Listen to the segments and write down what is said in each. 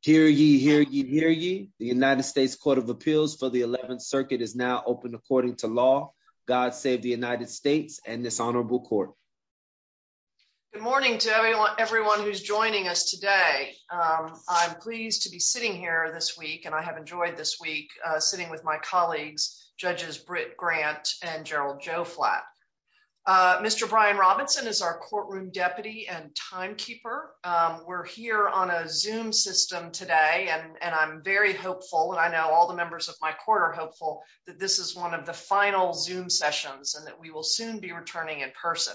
Hear ye, hear ye, hear ye. The United States Court of Appeals for the 11th Circuit is now open according to law. God save the United States and this honorable court. Good morning to everyone who's joining us today. I'm pleased to be sitting here this week and I have enjoyed this week sitting with my colleagues, Judges Britt Grant and Gerald Joflat. Mr. Brian today and I'm very hopeful and I know all the members of my court are hopeful that this is one of the final Zoom sessions and that we will soon be returning in person.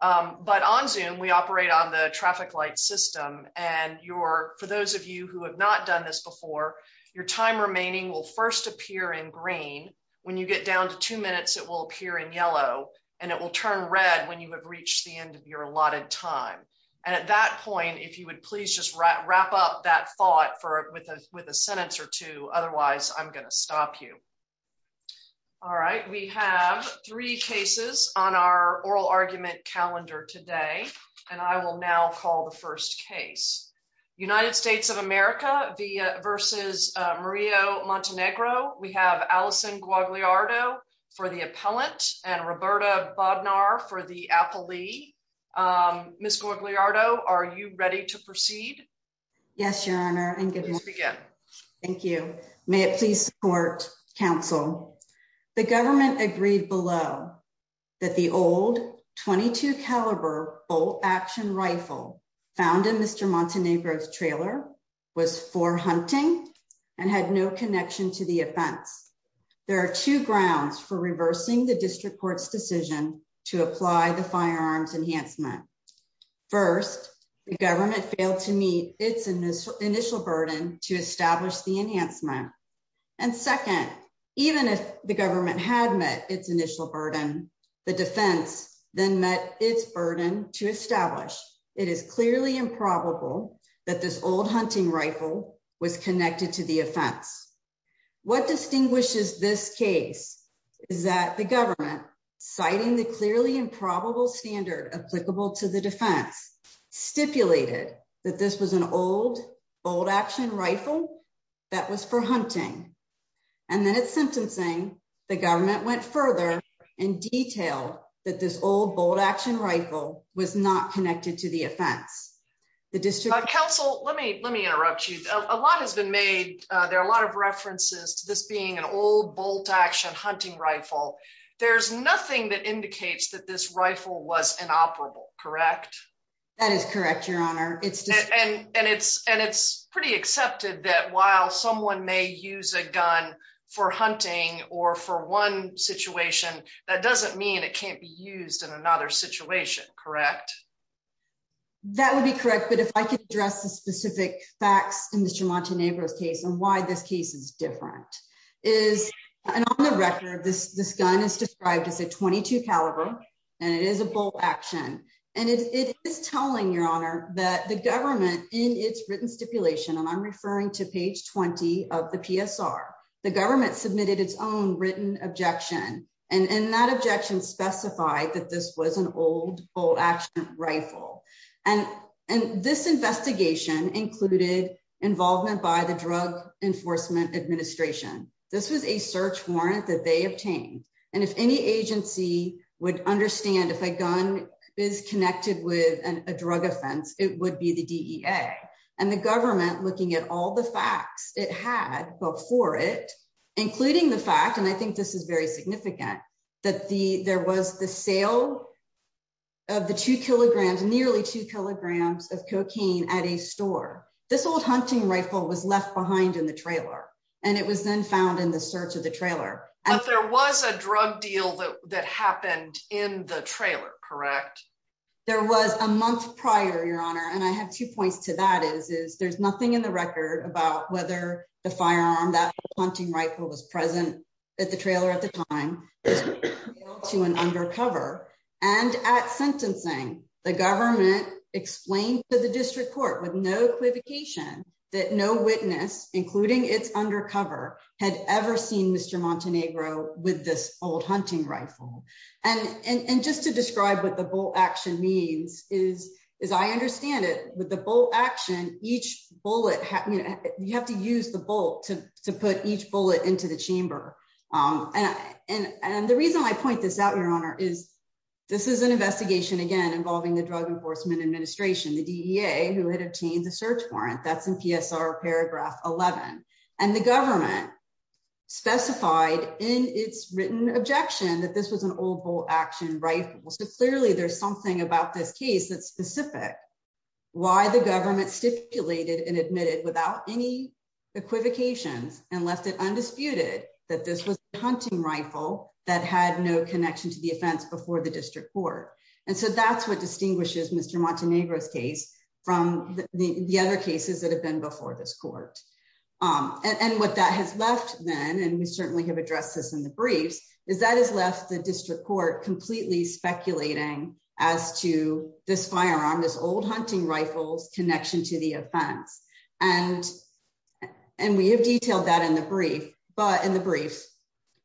But on Zoom, we operate on the traffic light system and for those of you who have not done this before, your time remaining will first appear in green. When you get down to two minutes, it will appear in yellow and it will turn red when you have reached the end of your allotted time. And at that point, if you would please just wrap up that thought with a sentence or two, otherwise I'm going to stop you. All right, we have three cases on our oral argument calendar today and I will now call the first case. United States of America v. Mario Montenegro. We have Allison Guagliardo for the to proceed. Yes, your honor. Thank you. May it please support counsel. The government agreed below that the old 22 caliber bolt action rifle found in Mr. Montenegro's trailer was for hunting and had no connection to the offense. There are two grounds for reversing the district court's decision to apply the firearms enhancement. First, the government failed to meet its initial initial burden to establish the enhancement. And second, even if the government had met its initial burden, the defense then met its burden to establish. It is clearly improbable that this old hunting rifle was connected to the offense. What distinguishes this case is that the government, citing the clearly improbable standard applicable to the defense, stipulated that this was an old bolt action rifle that was for hunting. And then it's sentencing. The government went further and detailed that this old bolt action rifle was not connected to the offense. The district counsel, let me let me interrupt you. A lot has been made. There are a old bolt action hunting rifle. There's nothing that indicates that this rifle was inoperable, correct? That is correct, your honor. And it's and it's pretty accepted that while someone may use a gun for hunting or for one situation, that doesn't mean it can't be used in another situation, correct? That would be correct. But if I could address the specific facts in the different is and on the record, this this gun is described as a 22 caliber and it is a bolt action and it is telling your honor that the government in its written stipulation and I'm referring to page 20 of the PSR, the government submitted its own written objection and in that objection specified that this was an old bolt action rifle. And and this investigation included involvement by the Drug Enforcement Administration. This was a search warrant that they obtained. And if any agency would understand if a gun is connected with a drug offense, it would be the DEA and the government looking at all the facts it had before it, including the fact and I think this is very significant that the there was the sale of the two kilograms, nearly two kilograms of cocaine at a store. This old hunting rifle was left behind in the trailer and it was then found in the search of the trailer. But there was a drug deal that that happened in the trailer, correct? There was a month prior, your honor, and I have two points to that is is there's nothing in the record about whether the firearm that hunting rifle was present at the trailer at the time to an undercover. And at sentencing, the government explained to the district court with no equivocation that no witness, including its undercover, had ever seen Mr. Montenegro with this old hunting rifle. And just to describe what the bolt action means is, as I understand it, with the bolt action, each bullet, you have to use the bolt to put each reason I point this out, your honor, is this is an investigation, again, involving the Drug Enforcement Administration, the DEA, who had obtained the search warrant that's in PSR paragraph 11. And the government specified in its written objection that this was an old bolt action rifle. So clearly, there's something about this case that's specific, why the government stipulated and admitted without any equivocations and left it undisputed that this was a hunting rifle that had no connection to the offense before the district court. And so that's what distinguishes Mr. Montenegro's case from the other cases that have been before this court. And what that has left then, and we certainly have addressed this in the briefs, is that has left the district court completely speculating as to this firearm, this old hunting rifles connection to the offense. And, and we have detailed that in the brief, but in the brief,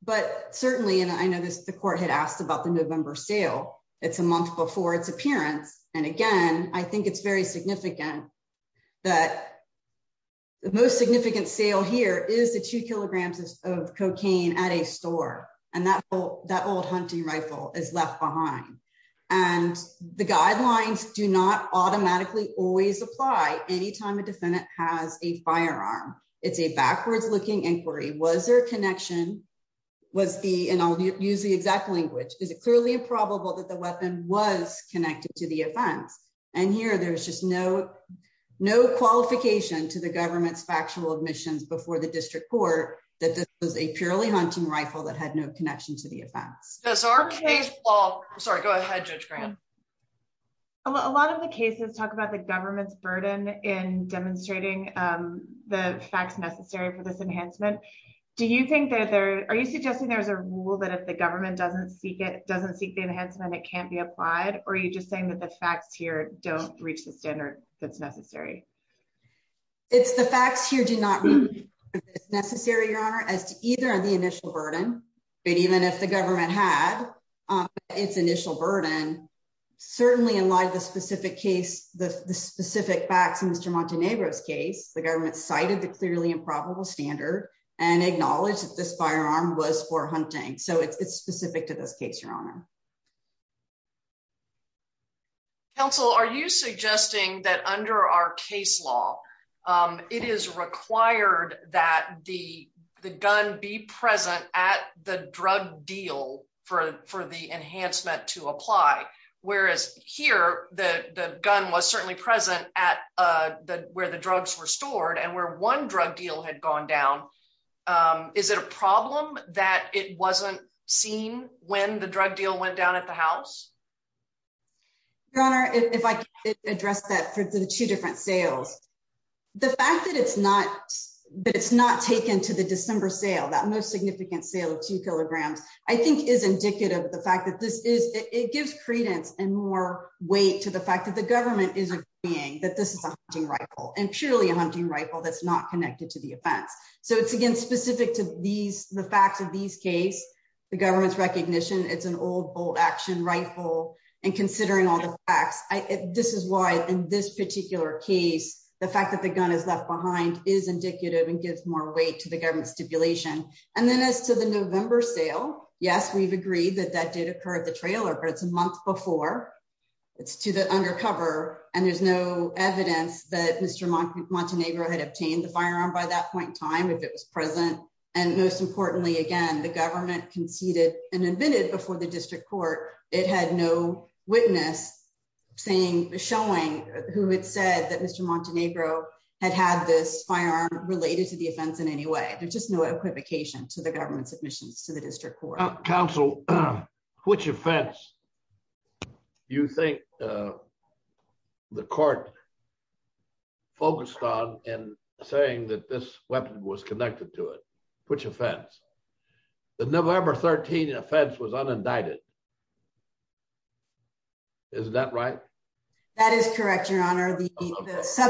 but certainly, and I know this, the court had asked about the November sale, it's a month before its appearance. And again, I think it's very significant that the most significant sale here is the two kilograms of cocaine at a store. And that will that old hunting rifle is left behind. And the guidelines do not automatically always apply anytime a defendant has a firearm. It's a backwards looking inquiry. Was there a connection? Was the and I'll use the exact language? Is it clearly improbable that the weapon was connected to the offense? And here, there's just no, no qualification to the government's factual admissions before the district court that this was a purely hunting rifle that had no connection to the offense. Well, sorry, go ahead, Judge Graham. A lot of the cases talk about the government's burden in demonstrating the facts necessary for this enhancement. Do you think that there are you suggesting there's a rule that if the government doesn't seek it doesn't seek the enhancement, it can't be applied? Or are you just saying that the facts here don't reach the standard that's necessary? It's the facts here do not mean it's necessary, Your Honor, as to either the initial burden, but even if the government had its initial burden, certainly in light of the specific case, the specific facts in Mr. Montenegro's case, the government cited the clearly improbable standard and acknowledged that this firearm was for hunting. So it's specific to this case, Your Honor. Counsel, are you suggesting that under our case law, it is required that the gun be present at the drug deal for the enhancement to apply? Whereas here, the gun was certainly present at where the drugs were stored and where one drug deal had gone down. Is it a problem that it wasn't seen when the drug deal went down at the house? Your Honor, if I could address that for the two different sales. The fact that it's not that it's not taken to the December sale, that most significant sale of two kilograms, I think is indicative of the fact that this is it gives credence and more weight to the fact that the government is agreeing that this is a hunting rifle and purely a hunting rifle that's not connected to the offense. So it's again specific to these the facts of these case, the government's old bolt action rifle and considering all the facts. This is why in this particular case, the fact that the gun is left behind is indicative and gives more weight to the government stipulation. And then as to the November sale, yes, we've agreed that that did occur at the trailer, but it's a month before it's to the undercover. And there's no evidence that Mr. Montenegro had obtained the firearm by that point in time if it was present. And most importantly, again, the government conceded and admitted before the district court. It had no witness saying showing who had said that Mr. Montenegro had had this firearm related to the offense in any way. There's just no equivocation to the government submissions to the district court. Counsel, which offense you think the court focused on and saying that this weapon was connected to it? Which offense? The November 13 offense was unindicted. Is that right? That is correct, your honor.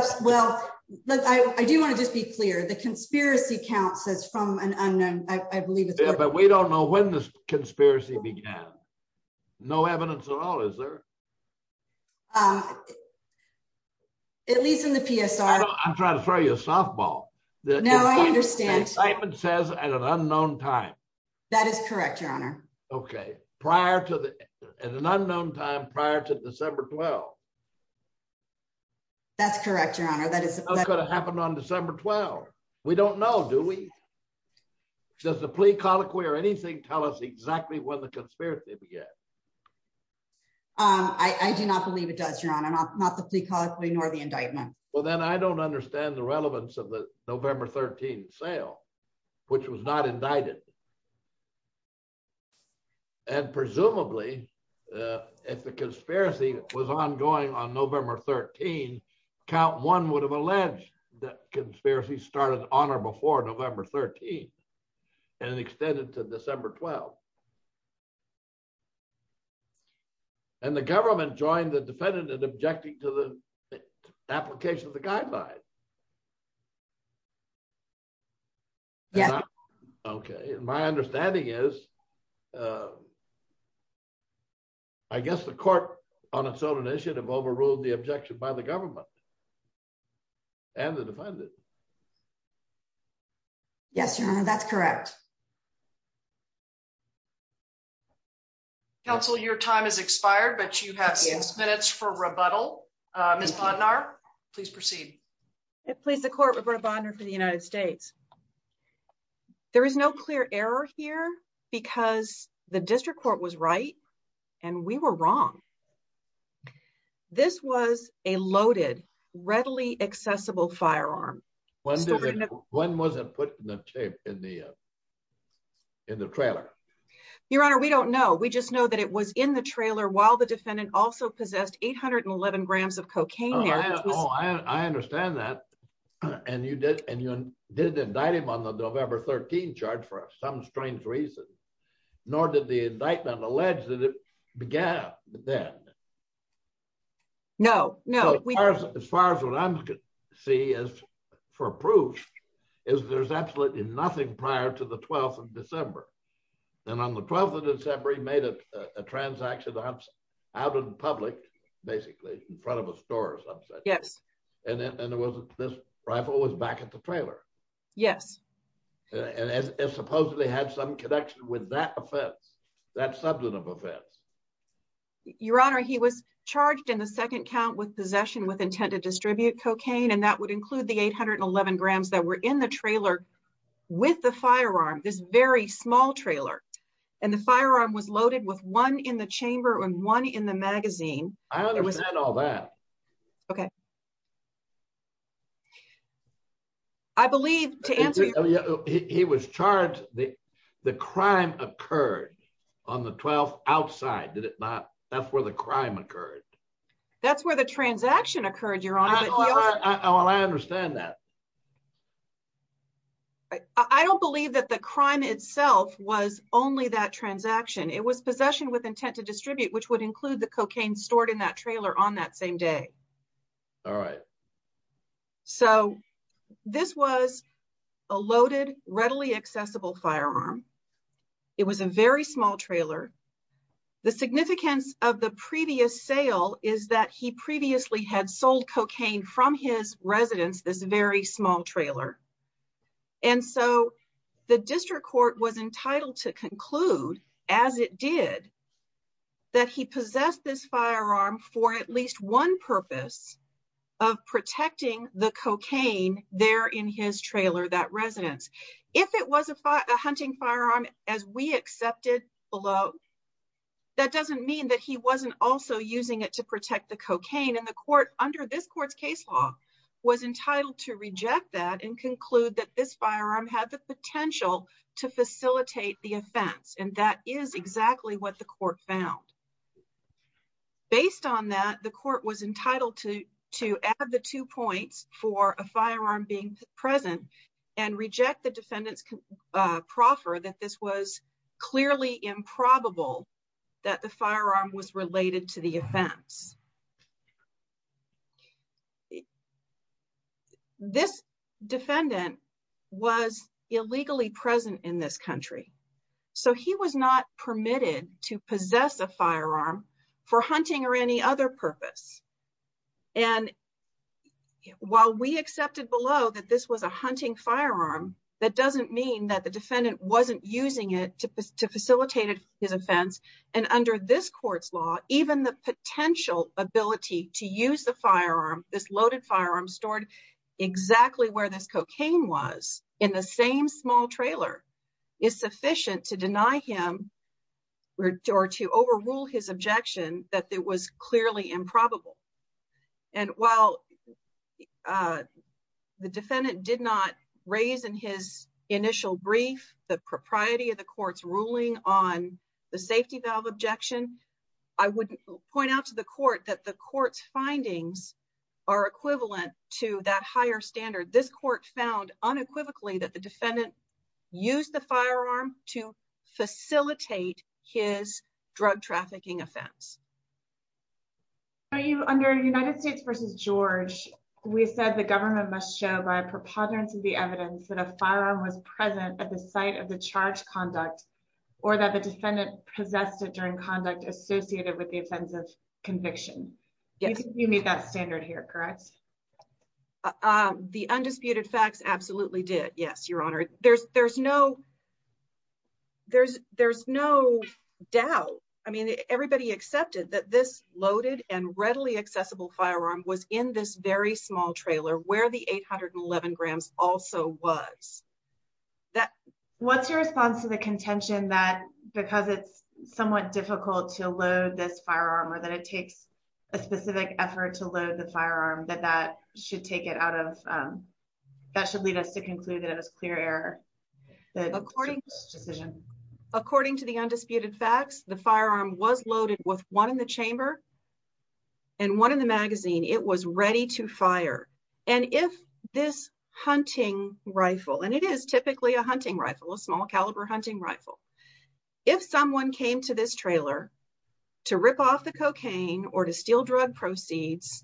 Well, I do want to just be clear. The conspiracy count says from an unknown, I believe, but we don't know when this conspiracy began. No evidence at all, is there? At least in the PSR. I'm trying to throw you a softball. No, I understand. The indictment says at an unknown time. That is correct, your honor. Okay. At an unknown time prior to December 12. That's correct, your honor. How could it happen on December 12? We don't know, do we? Does the plea colloquy or anything tell us exactly when the conspiracy began? I do not believe it does, your honor. Not the plea colloquy nor the indictment. Well, then I don't understand the relevance of the November 13 sale, which was not indicted. And presumably, if the conspiracy was ongoing on November 13, count one would have alleged that conspiracy started on or before November 13 and extended to December 12. And the government joined the defendant in objecting to the application of the guidelines. Yes. Okay. My understanding is, I guess the court on its own initiative overruled the objection by the government and the defendant. Yes, your honor, that's correct. Okay. Counsel, your time has expired, but you have six minutes for rebuttal. Ms. Bondnar, please proceed. Please, the court, Reverend Bondnar for the United States. There is no clear error here because the district court was right and we were wrong. This was a loaded, readily accessible firearm. One wasn't put in the tape in the trailer. Your honor, we don't know. We just know that it was in the trailer while the defendant also possessed 811 grams of cocaine. Oh, I understand that. And you did indict him on the November 13 charge for some strange reason, nor did the indictment allege that it began then. No, no. As far as what I see as for proof is there's absolutely nothing prior to the 12th December. And on the 12th of December, he made a transaction out in public, basically in front of a store or something. Yes. And this rifle was back at the trailer. Yes. And it supposedly had some connection with that offense, that substantive offense. Your honor, he was charged in the second count with possession with intent to distribute cocaine. And that would include the 811 grams that were in the trailer with the firearm, this very small trailer. And the firearm was loaded with one in the chamber and one in the magazine. I understand all that. Okay. I believe to answer. He was charged. The crime occurred on the 12th outside, did it not? That's where the crime occurred. That's where the transaction occurred, your honor. I understand that. I don't believe that the crime itself was only that transaction. It was possession with intent to distribute, which would include the cocaine stored in that trailer on that same day. All right. So this was a loaded, readily accessible firearm. It was a very small trailer. The significance of the previous sale is that he previously had sold cocaine from his residence, this very small trailer. And so the district court was entitled to conclude as it did that he possessed this firearm for at least one purpose of protecting the cocaine there in his trailer, that residence. If it was a hunting firearm, as we accepted below, that doesn't mean that he wasn't also using it to protect the cocaine. And the court under this court's case law was entitled to reject that and conclude that this firearm had the potential to facilitate the offense. And that is exactly what the court found. Based on that, the court was entitled to add the two points for a firearm being present and reject the defendant's proffer that this was clearly improbable that the firearm was related to the offense. This defendant was illegally present in this country. So he was not permitted to possess a firearm. While we accepted below that this was a hunting firearm, that doesn't mean that the defendant wasn't using it to facilitate his offense. And under this court's law, even the potential ability to use the firearm, this loaded firearm stored exactly where this cocaine was in the same small trailer is sufficient to deny him or to overrule his objection that it was clearly improbable. And while the defendant did not raise in his initial brief, the propriety of the court's ruling on the safety valve objection, I would point out to the court that the court's findings are equivalent to that higher standard. This court found unequivocally that the defendant used the firearm to facilitate his drug trafficking offense. Are you under United States versus George? We said the government must show by preponderance of the evidence that a firearm was present at the site of the charge conduct or that the defendant possessed it during conduct associated with the offensive conviction. Yes, you meet that standard here, correct? The undisputed facts absolutely did. Yes, your honor. There's there's no. There's there's no doubt. I mean, everybody accepted that this loaded and readily accessible firearm was in this very small trailer where the 811 grams also was that. What's your response to the contention that because it's somewhat difficult to load this firearm or that it takes a specific effort to load the firearm that that should take it out of that should lead us to conclude that it was clear error. According to the undisputed facts, the firearm was loaded with one in the chamber. And one in the magazine, it was ready to fire. And if this hunting rifle, and it is typically a hunting rifle, a small caliber hunting rifle. If someone came to this steel drug proceeds,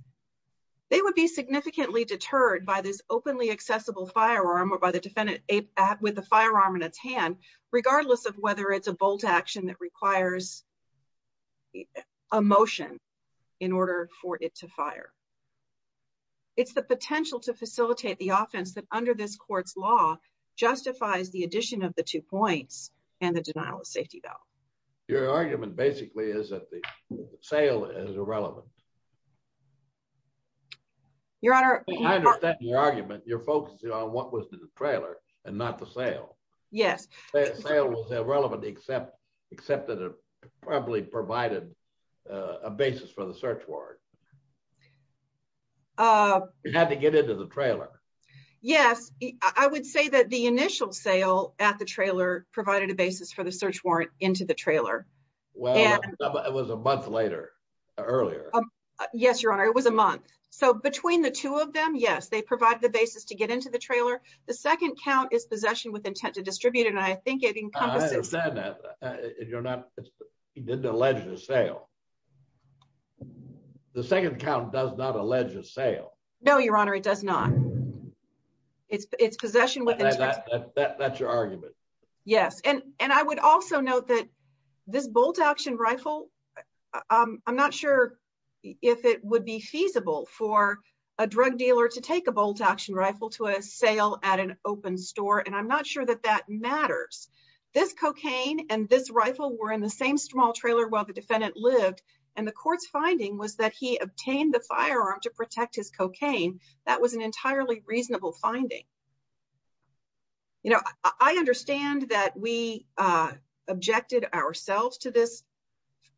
they would be significantly deterred by this openly accessible firearm or by the defendant with the firearm in its hand, regardless of whether it's a bolt action that requires a motion in order for it to fire. It's the potential to facilitate the offense that under this court's law justifies the addition of the two points and the denial of safety valve. Your argument basically is that the sale is irrelevant. Your Honor, I understand your argument, you're focusing on what was in the trailer and not the sale. Yes, the sale was irrelevant except that it probably provided a basis for the search warrant. You had to get into the trailer. Yes, I would say that the initial sale at the trailer provided a basis for the search warrant into the trailer. Well, it was a month later, earlier. Yes, Your Honor, it was a month. So between the two of them, yes, they provide the basis to get into the trailer. The second count is possession with intent to distribute and I think it encompasses... I understand that. You're not, he didn't allege the sale. The second count does not allege the sale. No, Your Honor, it does not. It's possession with intent. That's your argument. Yes, and I would also note that this bolt-action rifle, I'm not sure if it would be feasible for a drug dealer to take a bolt-action rifle to a sale at an open store and I'm not sure that that matters. This cocaine and this rifle were in the same small trailer while the defendant lived and the court's finding was that he obtained the firearm to protect his cocaine. That was an entirely reasonable finding. You know, I understand that we objected ourselves to this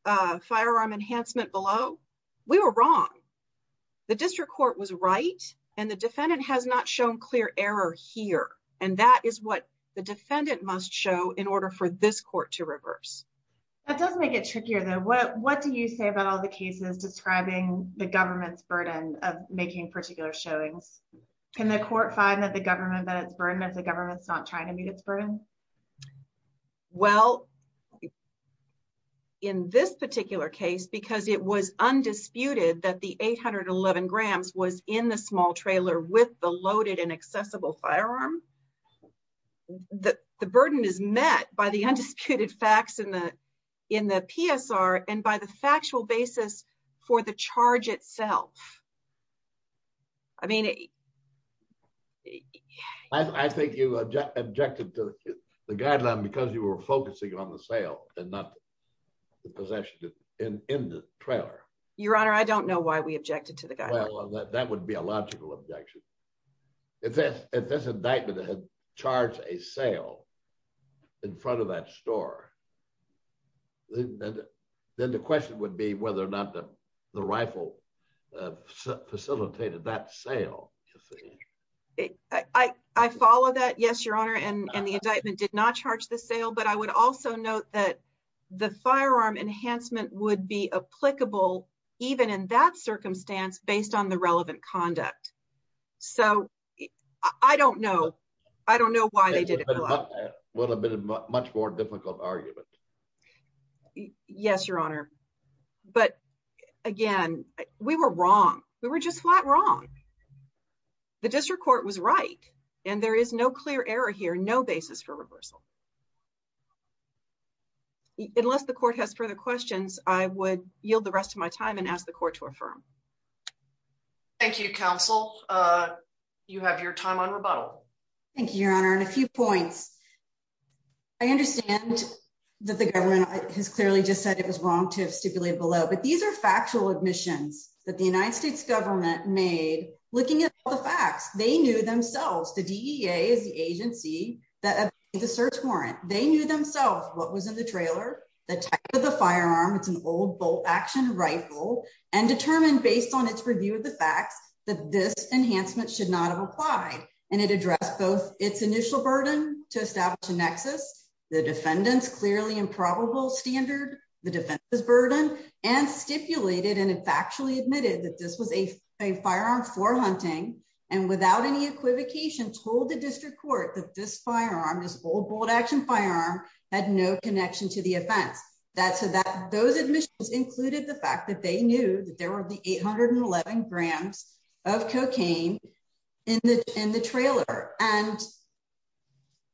firearm enhancement below. We were wrong. The district court was right and the defendant has not shown clear error here and that is what the defendant must show in order for this court to reverse. That does make it trickier though. What do you say about all the cases describing the government's burden of making particular showings? Can the court find that the government met its burden as the government's not trying to meet its burden? Well, in this particular case because it was undisputed that the 811 grams was in the small trailer with the loaded and accessible firearm, the burden is met by the factual basis for the charge itself. I think you objected to the guideline because you were focusing on the sale and not the possession in the trailer. Your honor, I don't know why we objected to the guideline. That would be a logical objection. If this indictment had charged a sale in front of that store, then the question would be whether or not the rifle facilitated that sale. I follow that, yes, your honor, and the indictment did not charge the sale, but I would also note that the firearm enhancement would be applicable even in that circumstance based on the relevant much more difficult argument. Yes, your honor, but again, we were wrong. We were just flat wrong. The district court was right and there is no clear error here, no basis for reversal. Unless the court has further questions, I would yield the rest of my time and ask the court to affirm. Thank you, counsel. You have your time on rebuttal. Thank you, your honor, and a few points. I understand that the government has clearly just said it was wrong to have stipulated below, but these are factual admissions that the United States government made looking at the facts. They knew themselves. The DEA is the agency that made the search warrant. They knew themselves what was in the trailer, the type of the firearm. It's an old bolt-action rifle and determined based on its review of the facts that this enhancement should not have applied and it addressed both its initial burden to establish a nexus, the defendant's clearly improbable standard, the defense's burden, and stipulated and factually admitted that this was a firearm for hunting and without any equivocation told the district court that this firearm, this old bolt-action firearm, had no connection to the offense. Those admissions included the fact that they knew that there were the 811 grams of cocaine in the trailer, and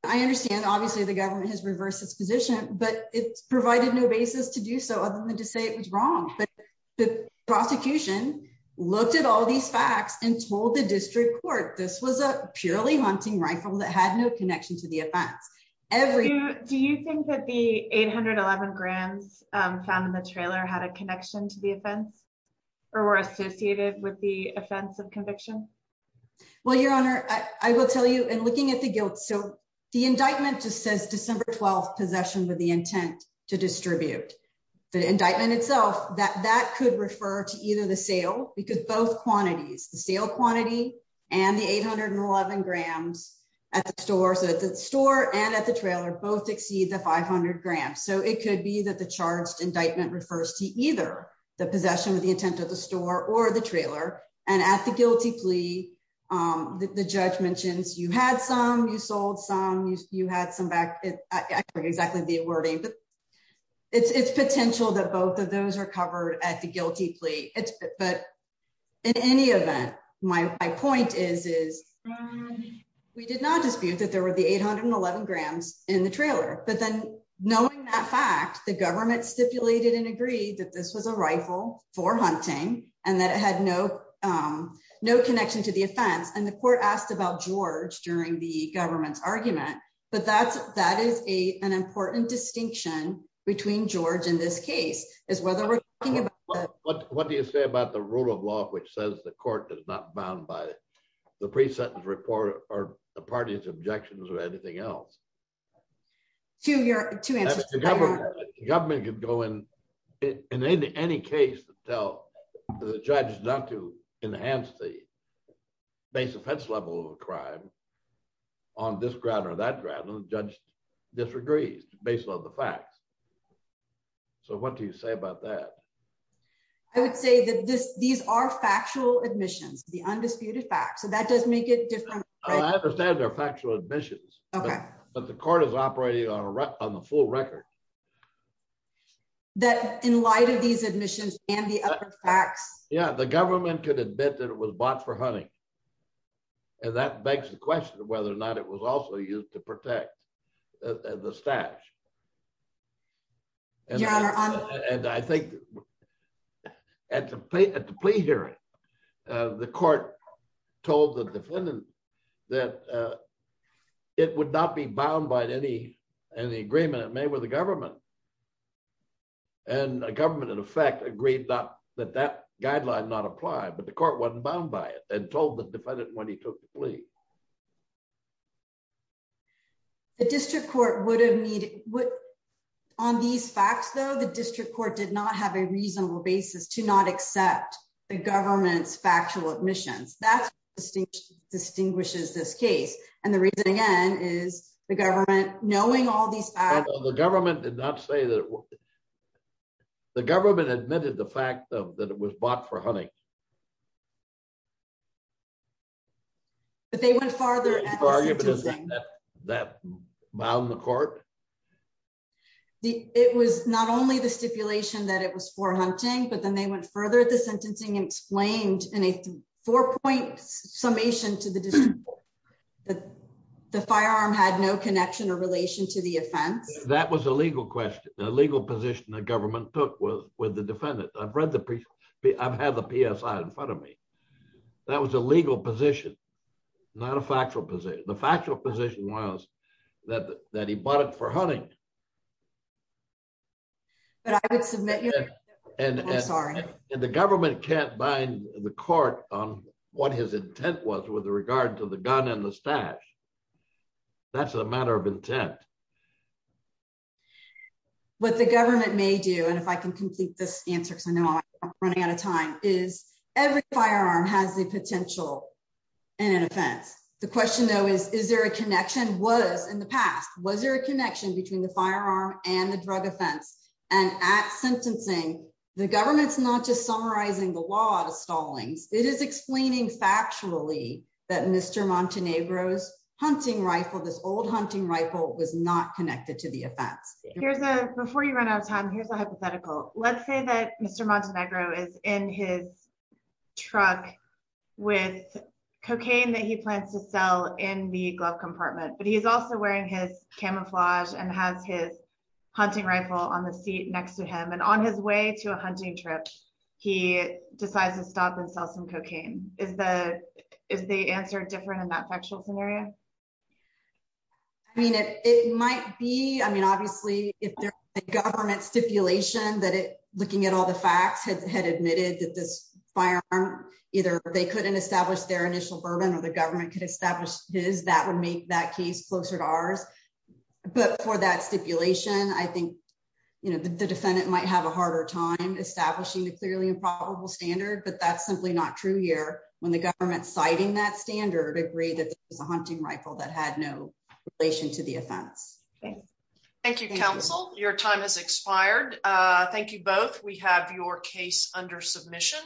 I understand obviously the government has reversed its position, but it's provided no basis to do so other than to say it was wrong, but the prosecution looked at all these facts and told the district court this was a purely hunting rifle that had no connection to the offense. Do you think that the 811 grams found in the or were associated with the offense of conviction? Well, your honor, I will tell you in looking at the guilt, so the indictment just says December 12th possession with the intent to distribute. The indictment itself, that could refer to either the sale because both quantities, the sale quantity and the 811 grams at the store, so at the store and at the trailer, both exceed the 500 grams, so it could be that the charged indictment refers to either the possession with the intent of the store or the trailer, and at the guilty plea, the judge mentions you had some, you sold some, you had some back. I forget exactly the wording, but it's potential that both of those are covered at the guilty plea, but in any event, my point is we did not dispute that there were the 811 grams in the trailer, but then knowing that fact, the government stipulated and agreed that this was a rifle for hunting and that it had no, no connection to the offense, and the court asked about George during the government's argument, but that's, that is a, an important distinction between George and this case is whether we're talking about. What do you say about the rule of law which says the court is not bound by the pre-sentence report or the party's objections or anything else? Two of your, two answers. The government could go in, in any case, tell the judge not to enhance the base offense level of a crime on this ground or that ground, the judge disagrees based on the facts, so what do you say about that? I would say that this, these are factual admissions, the undisputed facts, so that does make it different. Oh, I understand they're factual admissions, but the court is operating on a, on the full record. That in light of these admissions and the other facts. Yeah, the government could admit that it was bought for hunting and that begs the question of whether or not it was also used to protect the stash, and I think at the plea hearing, the court told the defendant that it would not be bound by any, any agreement it made with the government, and the government in effect agreed that that guideline not applied, but the court wasn't bound by it and told the defendant when he took the plea. The district court would have needed, would, on these facts though, the district court did not have a reasonable basis to not accept the government's factual admissions. That's what distinguishes this case, and the reason again is the government, knowing all these facts. The government did not say that, the government admitted the fact that it was bought for hunting. But they went farther. That bound the court. It was not only the stipulation that it was for hunting, but then they went further at the sentencing and explained in a four point summation to the district court that the firearm had no connection or relation to the offense. That was a legal question, the legal position the in front of me. That was a legal position, not a factual position. The factual position was that that he bought it for hunting. But I would submit, I'm sorry. And the government can't bind the court on what his intent was with regard to the gun and the stash. That's a matter of intent. What the government may do, and if I can complete this answer because I know I'm running out of time, is every firearm has the potential in an offense. The question though is, is there a connection? Was in the past, was there a connection between the firearm and the drug offense? And at sentencing, the government's not just summarizing the law to Stallings, it is explaining factually that Mr. Montenegro's hunting rifle, this old hunting rifle was not connected to the offense. Here's a, before you run out of time, here's a hypothetical. Let's say that Mr. Montenegro is in his truck with cocaine that he plans to sell in the glove compartment, but he's also wearing his camouflage and has his hunting rifle on the seat next to him. And on his way to a hunting trip, he decides to stop and sell some cocaine. Is the answer different in that factual scenario? I mean, it might be, I mean, obviously if there's a government stipulation that it, looking at all the facts, had admitted that this firearm, either they couldn't establish their initial burden or the government could establish his, that would make that case closer to ours. But for that stipulation, I think, you know, the defendant might have a harder time establishing the clearly improbable standard, but that's simply not true here. When the government's citing that standard, agree that there was a hunting rifle that had no relation to the offense. Thank you, counsel. Your time has expired. Thank you both. We have your case under submission.